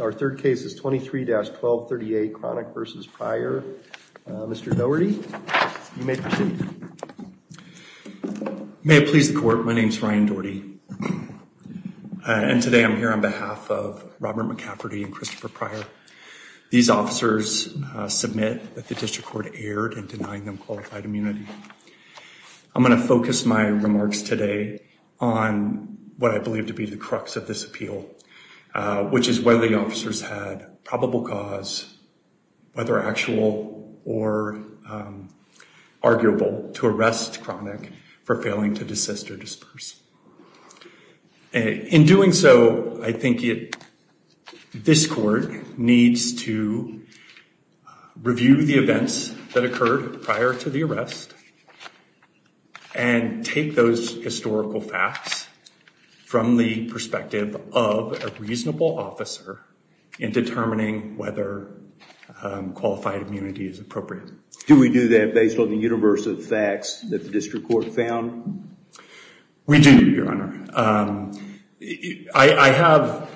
Our third case is 23-1238 Cronick v. Pryor. Mr. Doherty, you may proceed. May it please the Court, my name is Ryan Doherty, and today I'm here on behalf of Robert McCafferty and Christopher Pryor. These officers submit that the District Court erred in denying them qualified immunity. I'm going to focus my remarks today on what I believe to be the crux of this appeal, which is whether the officers had probable cause, whether actual or arguable, to arrest Cronick for failing to desist or disperse. In doing so, I think this Court needs to review the events that occurred prior to the arrest and take those historical facts from the perspective of a reasonable officer in determining whether qualified immunity is appropriate. Do we do that based on the universe of facts that the District Court found? We do, Your Honor. I have,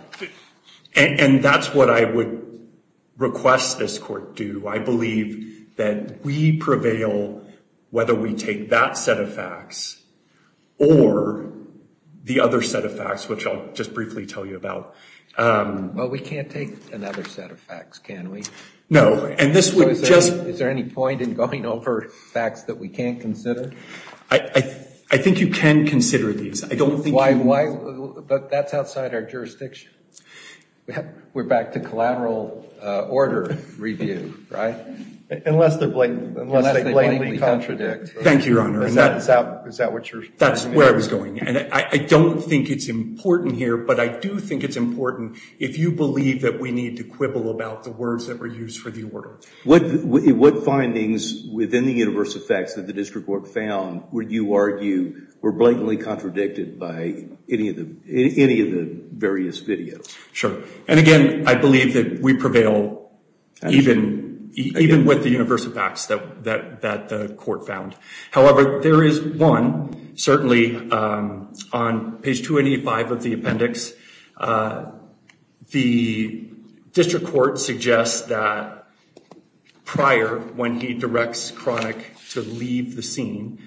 and that's what I would request this Court do. I believe that we prevail whether we take that set of facts or the other set of facts, which I'll just briefly tell you about. Well, we can't take another set of facts, can we? No, and this would just Is there any point in going over facts that we can't consider? I think you can consider these. But that's outside our jurisdiction. We're back to collateral order review, right? Unless they blatantly contradict. Thank you, Your Honor. Is that what you're saying? That's where I was going. And I don't think it's important here, but I do think it's important if you believe that we need to quibble about the words that were used for the order. What findings within the universe of facts that the District Court found would you argue were blatantly contradicted by any of the various videos? Sure, and again, I believe that we prevail even with the universe of facts that the Court found. However, there is one, certainly, on page 285 of the appendix. The District Court suggests that Pryor, when he directs Cronick to leave the scene,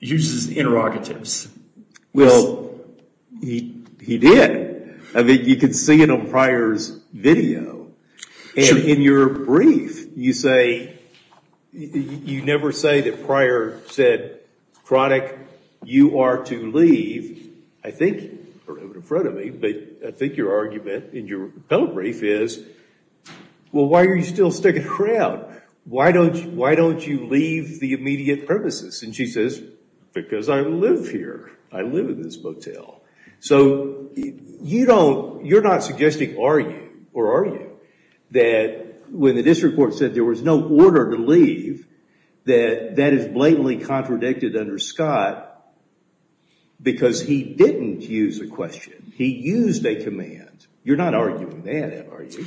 uses interrogatives. Well, he did. I mean, you could see it on Pryor's video. And in your brief, you never say that Pryor said, Cronick, you are to leave. I think, or in front of me, but I think your argument in your appellate brief is, well, why are you still sticking around? Why don't you leave the immediate premises? And she says, because I live here. I live in this motel. So you're not suggesting, are you, or are you, that when the District Court said there was no order to leave, that that is blatantly contradicted under Scott because he didn't use a question. He used a command. You're not arguing that, are you?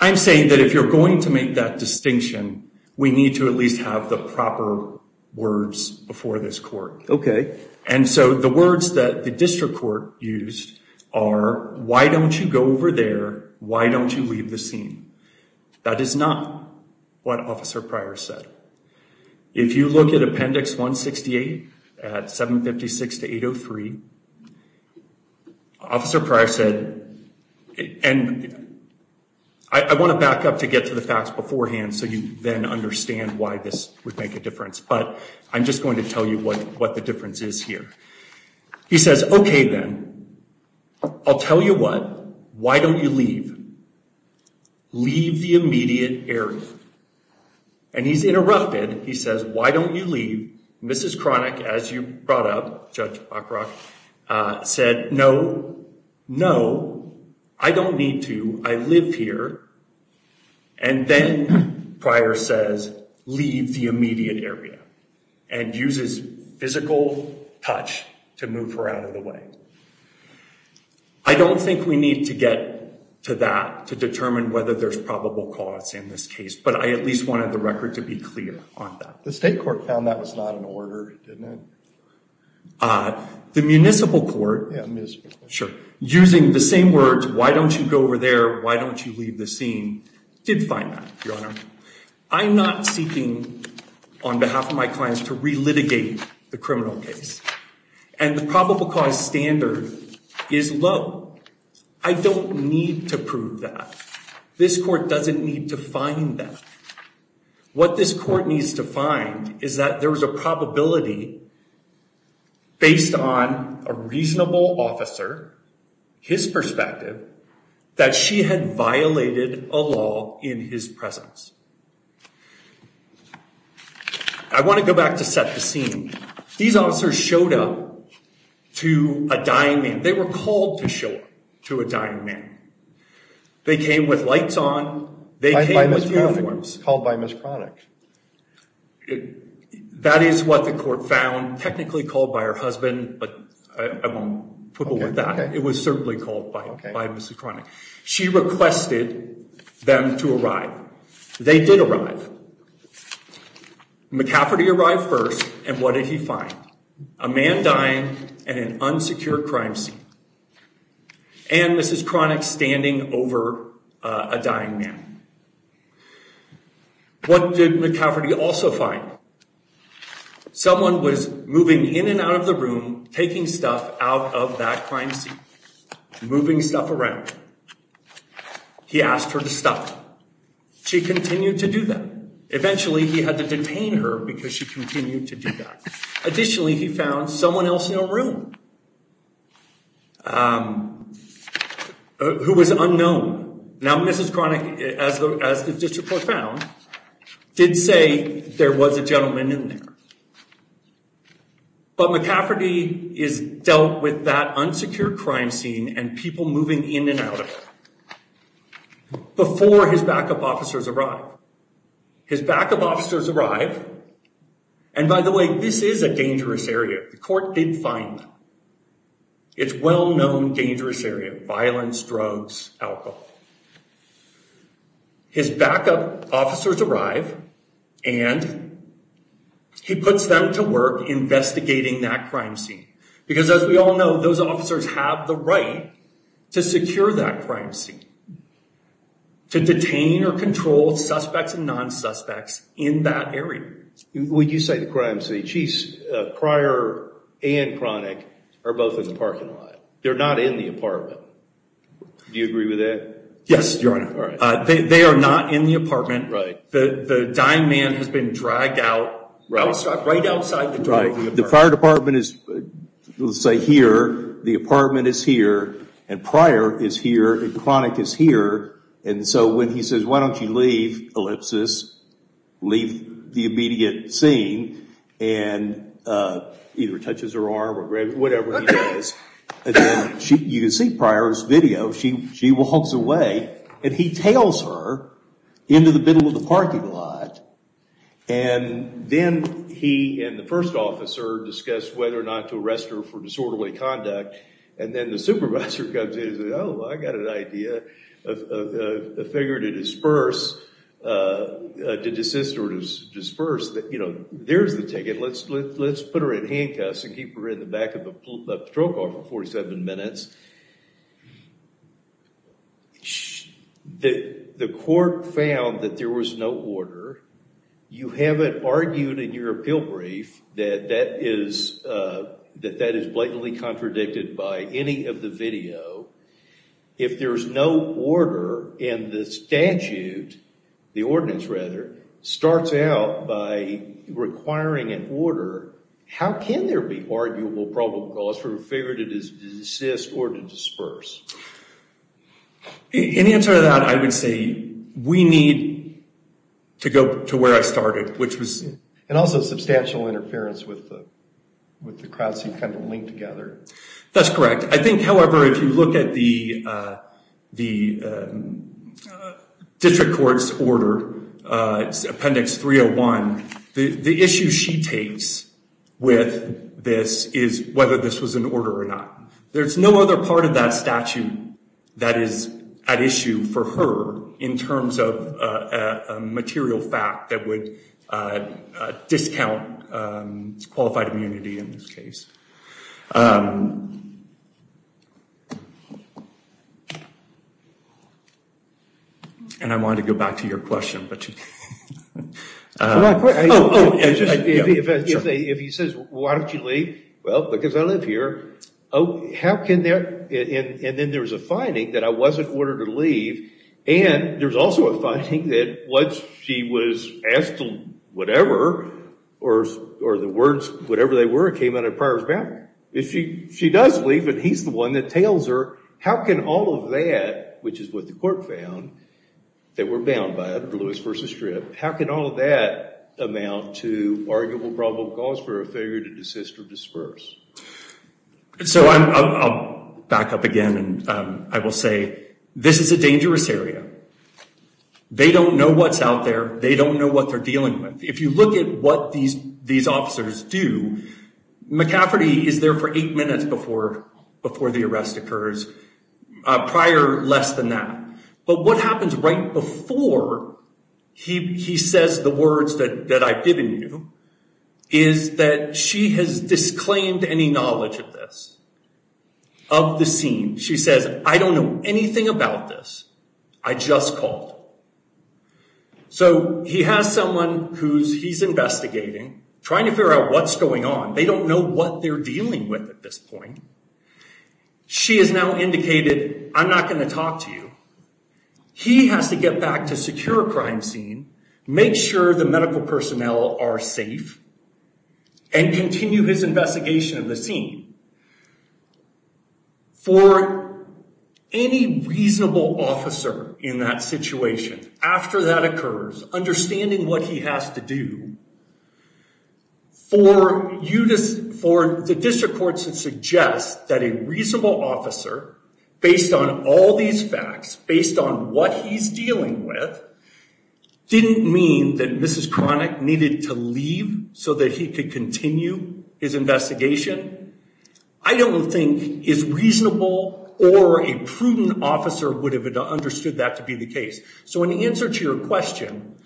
I'm saying that if you're going to make that distinction, we need to at least have the proper words before this Court. OK. And so the words that the District Court used are, why don't you go over there? Why don't you leave the scene? That is not what Officer Pryor said. If you look at Appendix 168 at 756 to 803, Officer Pryor said, and I want to back up to get to the facts beforehand so you then understand why this would make a difference. But I'm just going to tell you what the difference is here. He says, OK, then. I'll tell you what. Why don't you leave? Leave the immediate area. And he's interrupted. He says, why don't you leave? Mrs. Cronick, as you brought up, Judge Buckrock, said, no. No. I don't need to. I live here. And then Pryor says, leave the immediate area and uses physical touch to move her out of the way. I don't think we need to get to that to determine whether there's probable cause in this case, but I at least wanted the record to be clear on that. The State Court found that was not an order, didn't it? The municipal court, using the same words, why don't you go over there, why don't you leave the scene, did find that, Your Honor. I'm not seeking, on behalf of my clients, to re-litigate the criminal case. And the probable cause standard is low. I don't need to prove that. This court doesn't need to find that. What this court needs to find is that there was a probability, based on a reasonable officer, his perspective, that she had violated a law in his presence. I want to go back to set the scene. These officers showed up to a dying man. They were called to show up to a dying man. They came with lights on, they came with uniforms. Called by Ms. Cronick. That is what the court found, technically called by her husband, but I won't quibble with that. It was certainly called by Ms. Cronick. She requested them to arrive. They did arrive. McCafferty arrived first, and what did he find? A man dying in an unsecured crime scene. And Ms. Cronick standing over a dying man. What did McCafferty also find? Someone was moving in and out of the room, taking stuff out of that crime scene. Moving stuff around. He asked her to stop. She continued to do that. Eventually, he had to detain her because she continued to do that. Additionally, he found someone else in a room. Who was unknown. Now, Ms. Cronick, as the district court found, did say there was a gentleman in there. But McCafferty is dealt with that unsecured crime scene and people moving in and out of it. Before his backup officers arrive. His backup officers arrive. And by the way, this is a dangerous area. The court did find them. It's a well-known dangerous area. Violence, drugs, alcohol. His backup officers arrive, and he puts them to work investigating that crime scene. Because as we all know, those officers have the right to secure that crime scene. To detain or control suspects and non-suspects in that area. Would you say the crime scene. Pryor and Cronick are both in the parking lot. They're not in the apartment. Do you agree with that? Yes, Your Honor. They are not in the apartment. The dying man has been dragged out. Right outside the driveway. The fire department is, let's say, here. The apartment is here. And Pryor is here. And Cronick is here. And so when he says, why don't you leave, ellipsis. Leave the immediate scene. And either touches her arm or whatever he does. You can see Pryor's video. She walks away. And he tails her into the middle of the parking lot. And then he and the first officer discuss whether or not to arrest her for disorderly conduct. And then the supervisor comes in and says, oh, I got an idea. A figure to disperse. To desist or disperse. There's the ticket. Let's put her in handcuffs and keep her in the back of a patrol car for 47 minutes. The court found that there was no order. You haven't argued in your appeal brief that that is blatantly contradicted by any of the video. If there's no order and the statute, the ordinance rather, starts out by requiring an order, how can there be arguable probable cause for a figure to desist or to disperse? In answer to that, I would say we need to go to where I started, which was. And also substantial interference with the crowd scene kind of linked together. That's correct. I think, however, if you look at the district court's order, appendix 301, the issue she takes with this is whether this was an order or not. There's no other part of that statute that is at issue for her in terms of a material fact that would discount qualified immunity in this case. And I wanted to go back to your question. If he says, why don't you leave? Well, because I live here. And then there's a finding that I wasn't ordered to leave. And there's also a finding that once she was asked to whatever, or the words whatever they were, it came out of the prior's mouth. If she does leave and he's the one that tails her, how can all of that, which is what the court found, that we're bound by, Lewis versus Strip, how can all of that amount to arguable probable cause for a failure to desist or disperse? So I'll back up again, and I will say this is a dangerous area. They don't know what's out there. They don't know what they're dealing with. If you look at what these officers do, McCafferty is there for eight minutes before the arrest occurs. Prior, less than that. But what happens right before he says the words that I've given you, is that she has disclaimed any knowledge of this, of the scene. She says, I don't know anything about this. I just called. So he has someone who he's investigating, trying to figure out what's going on. They don't know what they're dealing with at this point. She has now indicated, I'm not going to talk to you. He has to get back to secure a crime scene, make sure the medical personnel are safe, and continue his investigation of the scene. For any reasonable officer in that situation, after that occurs, understanding what he has to do, for the district courts to suggest that a reasonable officer, based on all these facts, based on what he's dealing with, didn't mean that Mrs. Cronick needed to leave so that he could continue his investigation. I don't think his reasonable or a prudent officer would have understood that to be the case. So in answer to your question,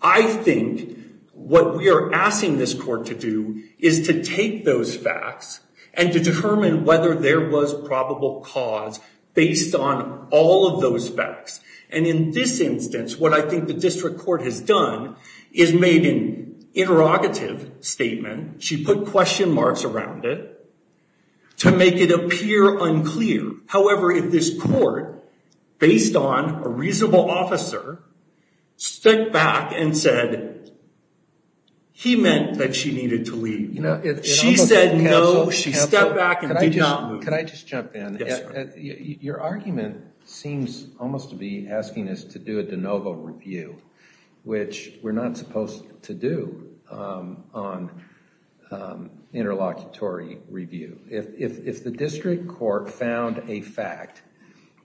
I think what we are asking this court to do is to take those facts and to determine whether there was probable cause based on all of those facts. And in this instance, what I think the district court has done is made an interrogative statement. She put question marks around it to make it appear unclear. However, if this court, based on a reasonable officer, stepped back and said he meant that she needed to leave, she said no, she stepped back and did not move. Can I just jump in? Yes, sir. Your argument seems almost to be asking us to do a de novo review, which we're not supposed to do on interlocutory review. If the district court found a fact,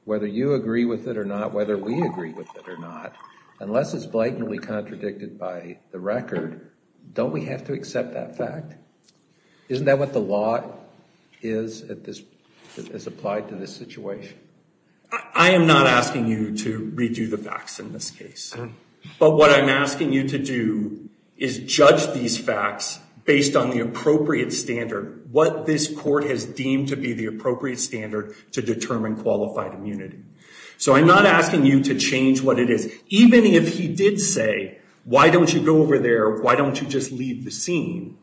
whether you agree with it or not, whether we agree with it or not, unless it's blatantly contradicted by the record, don't we have to accept that fact? Isn't that what the law is that is applied to this situation? I am not asking you to redo the facts in this case. But what I'm asking you to do is judge these facts based on the appropriate standard, what this court has deemed to be the appropriate standard to determine qualified immunity. So I'm not asking you to change what it is. Even if he did say, why don't you go over there, why don't you just leave the scene,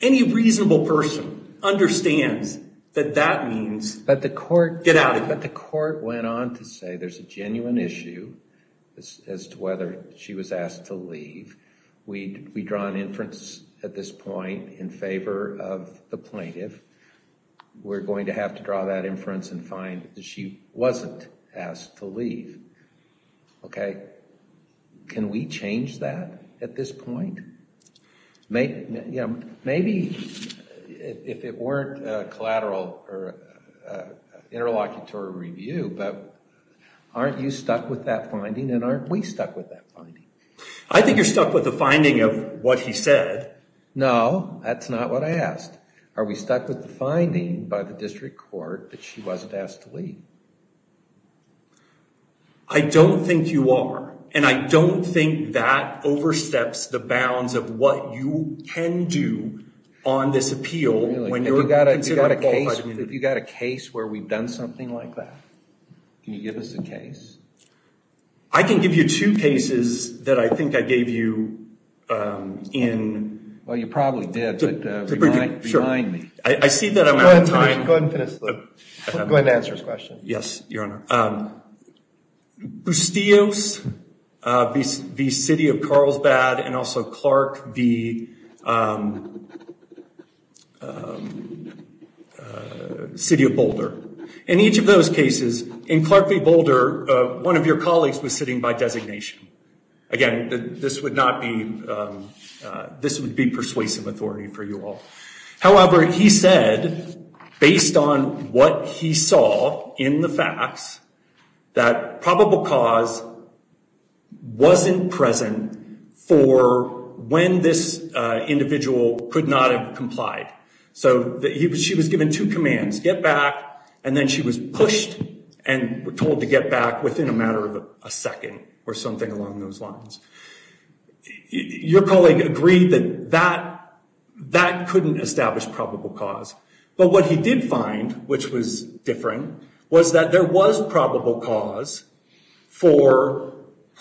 any reasonable person understands that that means get out of here. What the court went on to say, there's a genuine issue as to whether she was asked to leave. We draw an inference at this point in favor of the plaintiff. We're going to have to draw that inference and find that she wasn't asked to leave. Can we change that at this point? Maybe if it weren't collateral or interlocutory review, but aren't you stuck with that finding and aren't we stuck with that finding? I think you're stuck with the finding of what he said. No, that's not what I asked. Are we stuck with the finding by the district court that she wasn't asked to leave? I don't think you are. And I don't think that oversteps the bounds of what you can do on this appeal. If you've got a case where we've done something like that, can you give us a case? I can give you two cases that I think I gave you in. Well, you probably did, but remind me. I see that I'm out of time. Go ahead and answer his question. Yes, Your Honor. Bustios v. City of Carlsbad and also Clark v. City of Boulder. In each of those cases, in Clark v. Boulder, one of your colleagues was sitting by designation. Again, this would be persuasive authority for you all. However, he said, based on what he saw in the facts, that probable cause wasn't present for when this individual could not have complied. So she was given two commands, get back, and then she was pushed and told to get back within a matter of a second or something along those lines. Your colleague agreed that that couldn't establish probable cause. But what he did find, which was different, was that there was probable cause for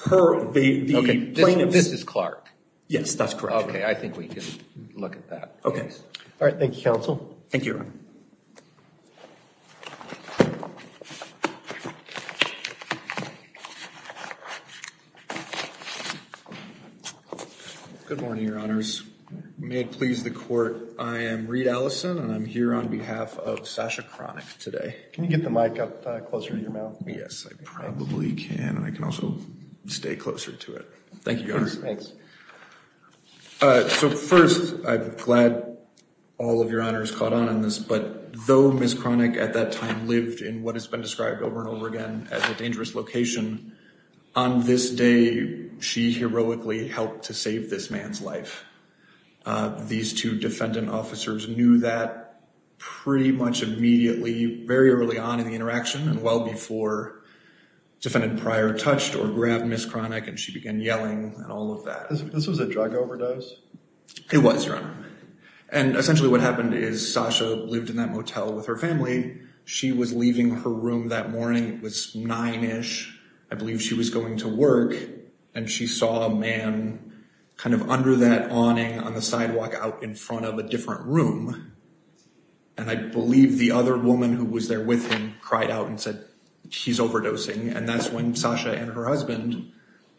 the plaintiffs. This is Clark. Yes, that's correct. Okay, I think we can look at that case. Thank you, Your Honor. Good morning, Your Honors. May it please the Court, I am Reid Allison, and I'm here on behalf of Sasha Cronick today. Can you get the mic up closer to your mouth? Yes, I probably can. I can also stay closer to it. Thank you, Your Honor. Thanks. So first, I'm glad all of Your Honors caught on on this, but though Ms. Cronick at that time lived in what has been described over and over again as a dangerous location, on this day she heroically helped to save this man's life. These two defendant officers knew that pretty much immediately, very early on in the interaction and well before defendant prior touched or grabbed Ms. Cronick and she began yelling and all of that. This was a drug overdose? It was, Your Honor. And essentially what happened is Sasha lived in that motel with her family. She was leaving her room that morning. It was nine-ish. I believe she was going to work, and she saw a man kind of under that awning on the sidewalk out in front of a different room. And I believe the other woman who was there with him cried out and said, he's overdosing. And that's when Sasha and her husband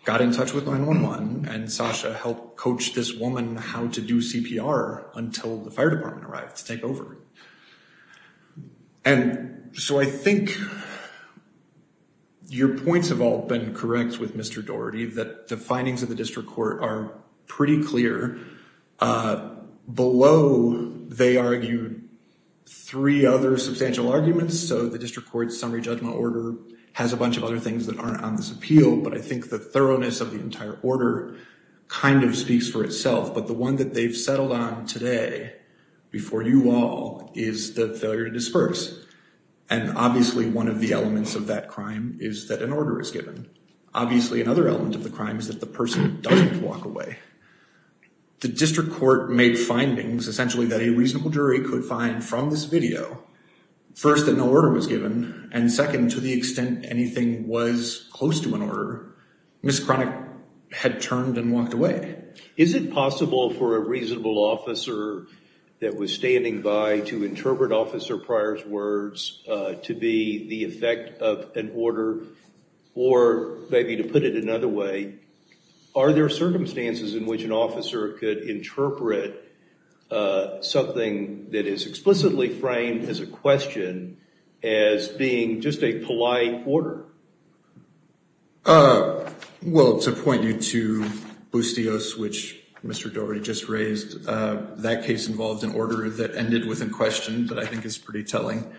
got in touch with 911 and Sasha helped coach this woman how to do CPR until the fire department arrived to take over. And so I think your points have all been correct with Mr. Daugherty, that the findings of the district court are pretty clear. Below, they argued three other substantial arguments. So the district court summary judgment order has a bunch of other things that aren't on this appeal. But I think the thoroughness of the entire order kind of speaks for itself. But the one that they've settled on today, before you all, is the failure to disperse. And obviously one of the elements of that crime is that an order is given. Obviously another element of the crime is that the person doesn't walk away. The district court made findings, essentially, that a reasonable jury could find from this video. First, that no order was given. And second, to the extent anything was close to an order, Ms. Kronick had turned and walked away. Is it possible for a reasonable officer that was standing by to interpret Officer Pryor's words to be the effect of an order? Or maybe to put it another way, are there circumstances in which an officer could interpret something that is explicitly framed as a question as being just a polite order? Well, to point you to Bustios, which Mr. Daugherty just raised, that case involved an order that ended with a question that I think is pretty telling.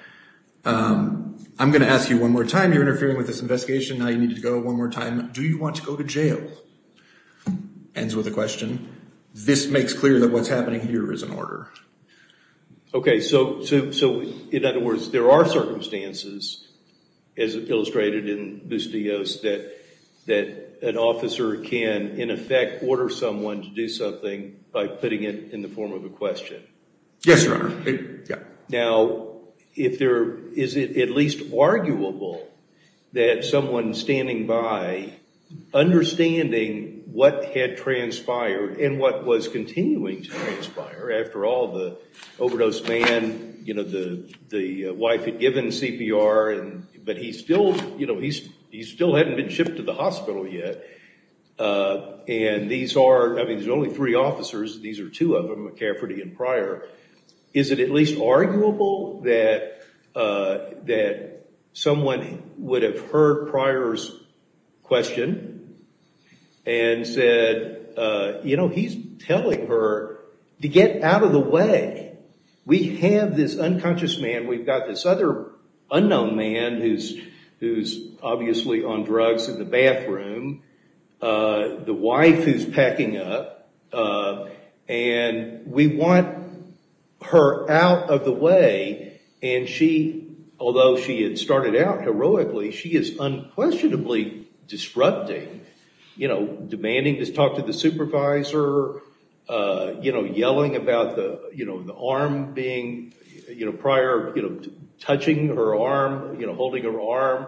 I'm going to ask you one more time. You're interfering with this investigation. Now you need to go one more time. Do you want to go to jail? Ends with a question. This makes clear that what's happening here is an order. Okay, so in other words, there are circumstances, as illustrated in Bustios, that an officer can, in effect, order someone to do something by putting it in the form of a question. Yes, Your Honor. Now, is it at least arguable that someone standing by, understanding what had transpired and what was continuing to transpire? After all, the overdose man, the wife had given CPR, but he still hadn't been shipped to the hospital yet. I mean, there's only three officers. These are two of them, McCafferty and Pryor. Is it at least arguable that someone would have heard Pryor's question and said, you know, he's telling her to get out of the way. We have this unconscious man. We've got this other unknown man who's obviously on drugs in the bathroom. The wife is packing up, and we want her out of the way, and she, although she had started out heroically, she is unquestionably disrupting. Demanding to talk to the supervisor, yelling about the arm being, Pryor touching her arm, holding her arm,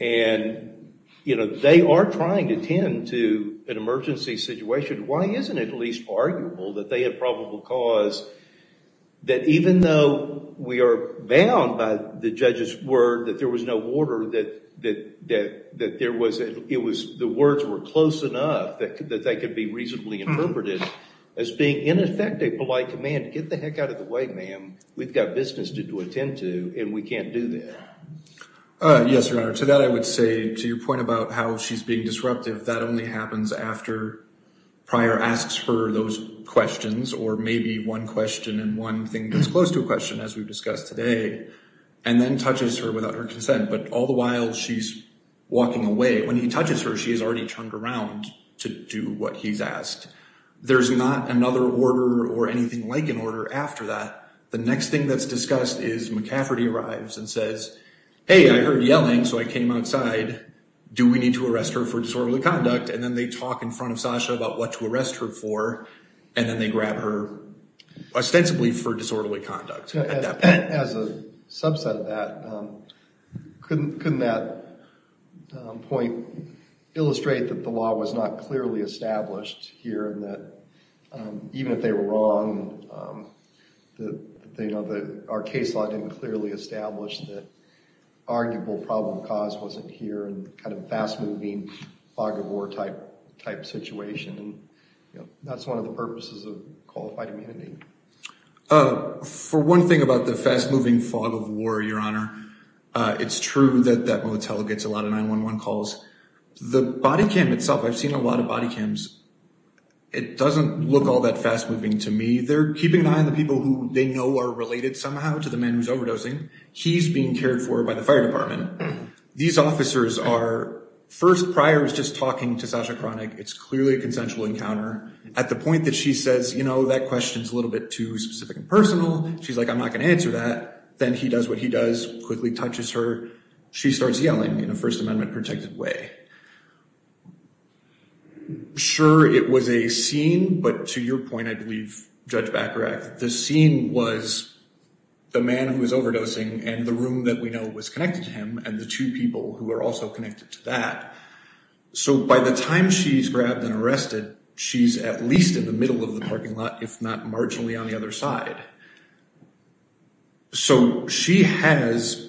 and they are trying to tend to an emergency situation. Why isn't it at least arguable that they had probable cause that even though we are bound by the judge's word that there was no order, that the words were close enough that they could be reasonably interpreted as being in effect a polite command. Get the heck out of the way, ma'am. We've got business to attend to, and we can't do that. Yes, Your Honor, to that I would say to your point about how she's being disruptive. That only happens after Pryor asks for those questions or maybe one question and one thing that's close to a question, as we've discussed today, and then touches her without her consent. But all the while, she's walking away. When he touches her, she is already turned around to do what he's asked. There's not another order or anything like an order after that. The next thing that's discussed is McCafferty arrives and says, hey, I heard yelling, so I came outside. Do we need to arrest her for disorderly conduct? And then they talk in front of Sasha about what to arrest her for, and then they grab her ostensibly for disorderly conduct at that point. As a subset of that, couldn't that point illustrate that the law was not clearly established here and that even if they were wrong, our case law didn't clearly establish that arguable problem cause wasn't here and kind of fast-moving, fog of war type situation. That's one of the purposes of qualified immunity. For one thing about the fast-moving fog of war, Your Honor, it's true that that motel gets a lot of 911 calls. The body cam itself, I've seen a lot of body cams. It doesn't look all that fast-moving to me. They're keeping an eye on the people who they know are related somehow to the man who's overdosing. He's being cared for by the fire department. These officers are first priors just talking to Sasha Cronick. It's clearly a consensual encounter. At the point that she says, you know, that question's a little bit too specific and personal. She's like, I'm not going to answer that. Then he does what he does, quickly touches her. She starts yelling in a First Amendment-protected way. Sure, it was a scene, but to your point, I believe, Judge Bacharach, the scene was the man who was overdosing and the room that we know was connected to him and the two people who are also connected to that. So by the time she's grabbed and arrested, she's at least in the middle of the parking lot, if not marginally on the other side. So she has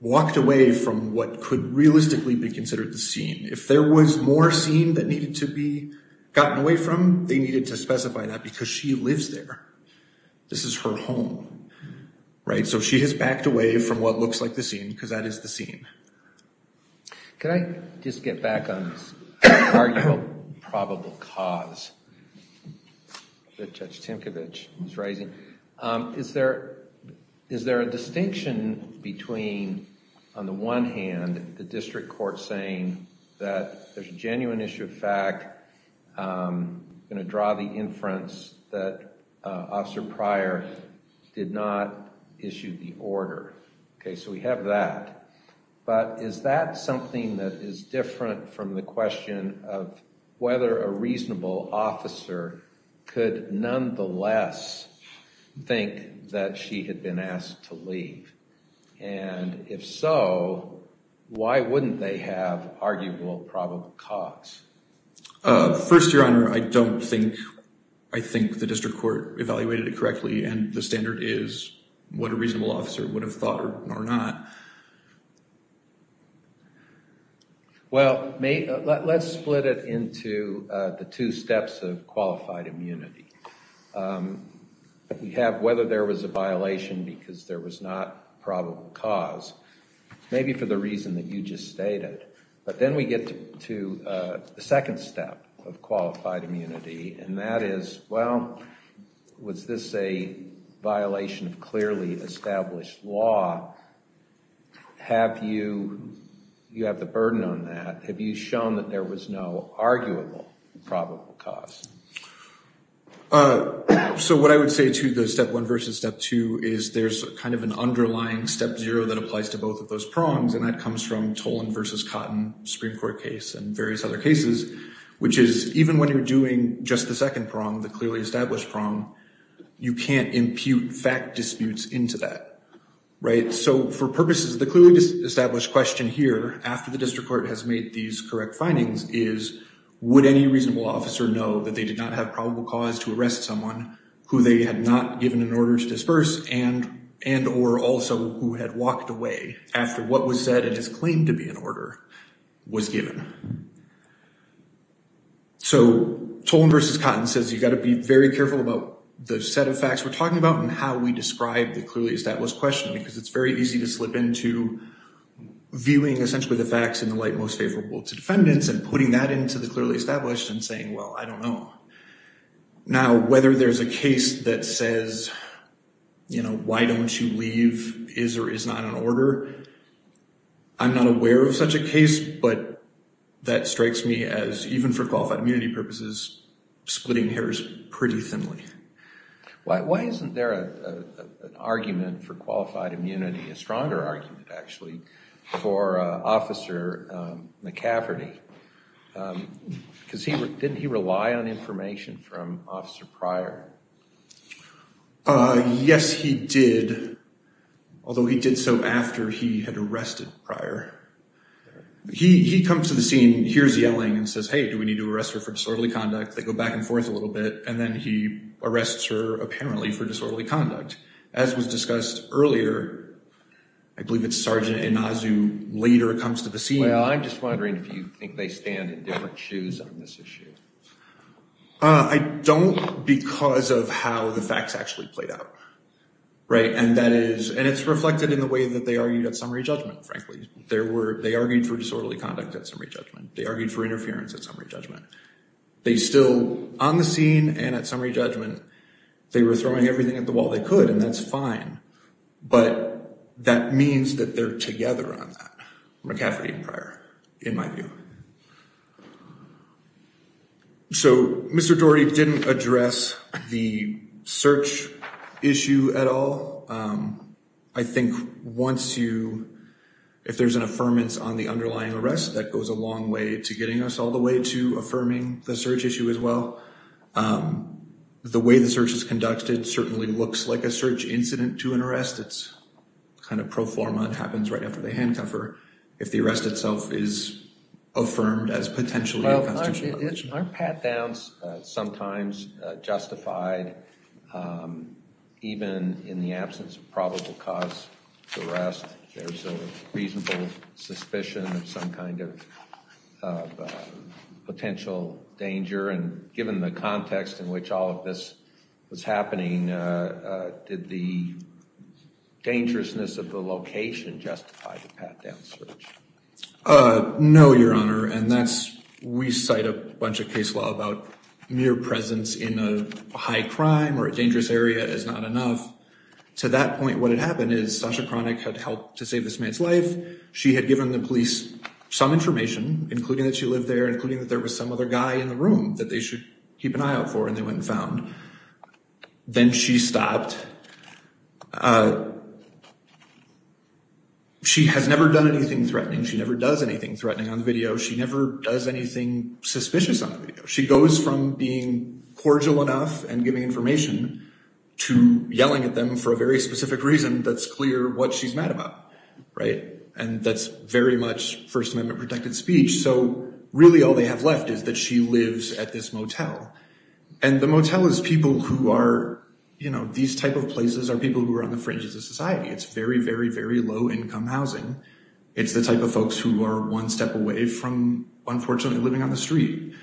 walked away from what could realistically be considered the scene. If there was more scene that needed to be gotten away from, they needed to specify that because she lives there. This is her home, right? So she has backed away from what looks like the scene because that is the scene. Can I just get back on this arguable probable cause that Judge Tinkovich was raising? Is there a distinction between, on the one hand, the district court saying that there's a genuine issue of fact, going to draw the inference that Officer Pryor did not issue the order? Okay, so we have that. But is that something that is different from the question of whether a reasonable officer could nonetheless think that she had been asked to leave? And if so, why wouldn't they have arguable probable cause? First, Your Honor, I don't think, I think the district court evaluated it correctly, and the standard is what a reasonable officer would have thought or not. Well, let's split it into the two steps of qualified immunity. We have whether there was a violation because there was not probable cause, maybe for the reason that you just stated. But then we get to the second step of qualified immunity, and that is, well, was this a violation of clearly established law? Have you, you have the burden on that. Have you shown that there was no arguable probable cause? So what I would say to the step one versus step two is there's kind of an underlying step zero that applies to both of those prongs. And that comes from Tolan versus Cotton Supreme Court case and various other cases, which is even when you're doing just the second prong, the clearly established prong, you can't impute fact disputes into that. So for purposes of the clearly established question here, after the district court has made these correct findings, is would any reasonable officer know that they did not have probable cause to arrest someone who they had not given an order to disperse and or also who had walked away after what was said and is claimed to be an order was given? So Tolan versus Cotton says you've got to be very careful about the set of facts we're talking about and how we describe the clearly established question because it's very easy to slip into viewing essentially the facts in the light most favorable to defendants and putting that into the clearly established and saying, well, I don't know. Now, whether there's a case that says, you know, why don't you leave, is or is not an order, I'm not aware of such a case, but that strikes me as even for qualified immunity purposes, splitting hairs pretty thinly. Why isn't there an argument for qualified immunity, a stronger argument actually, for Officer McCafferty? Because didn't he rely on information from Officer Pryor? Yes, he did, although he did so after he had arrested Pryor. He comes to the scene, hears yelling, and says, hey, do we need to arrest her for disorderly conduct? They go back and forth a little bit, and then he arrests her apparently for disorderly conduct. As was discussed earlier, I believe it's Sergeant Inazu later comes to the scene. Well, I'm just wondering if you think they stand in different shoes on this issue. I don't because of how the facts actually played out, right? And that is, and it's reflected in the way that they argued at summary judgment, frankly. They argued for disorderly conduct at summary judgment. They argued for interference at summary judgment. They still, on the scene and at summary judgment, they were throwing everything at the wall they could, and that's fine. But that means that they're together on that, McCafferty and Pryor, in my view. So Mr. Dorey didn't address the search issue at all. I think once you, if there's an affirmance on the underlying arrest, that goes a long way to getting us all the way to affirming the search issue as well. The way the search is conducted certainly looks like a search incident to an arrest. It's kind of pro forma. It happens right after the handcuffer. If the arrest itself is affirmed as potentially a constitutional violation. Aren't pat-downs sometimes justified even in the absence of probable cause to arrest? There's a reasonable suspicion of some kind of potential danger. And given the context in which all of this was happening, did the dangerousness of the location justify the pat-down search? No, Your Honor. And that's, we cite a bunch of case law about mere presence in a high crime or a dangerous area is not enough. To that point, what had happened is Sasha Cronick had helped to save this man's life. She had given the police some information, including that she lived there, including that there was some other guy in the room that they should keep an eye out for and they went and found. Then she stopped. She has never done anything threatening. She never does anything threatening on the video. She never does anything suspicious on the video. She goes from being cordial enough and giving information to yelling at them for a very specific reason that's clear what she's mad about. Right. And that's very much First Amendment protected speech. So really all they have left is that she lives at this motel. And the motel is people who are, you know, these type of places are people who are on the fringes of society. It's very, very, very low income housing. It's the type of folks who are one step away from, unfortunately, living on the street.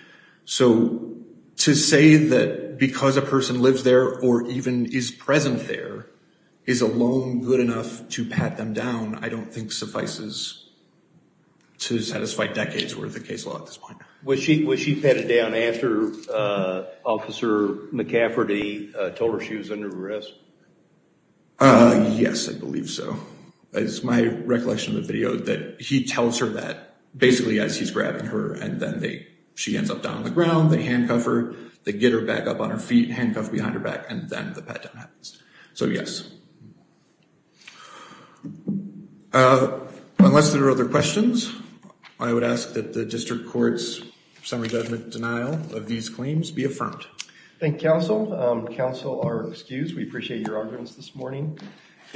So to say that because a person lives there or even is present there is alone good enough to pat them down, I don't think suffices to satisfy decades worth of case law at this point. Was she patted down after Officer McCafferty told her she was under arrest? Yes, I believe so. It's my recollection of the video that he tells her that basically as he's grabbing her and then she ends up down on the ground. They handcuff her, they get her back up on her feet, handcuff behind her back, and then the pat down happens. So, yes. Unless there are other questions, I would ask that the district court's summary judgment denial of these claims be affirmed. Thank you, counsel. Counsel are excused. We appreciate your arguments this morning.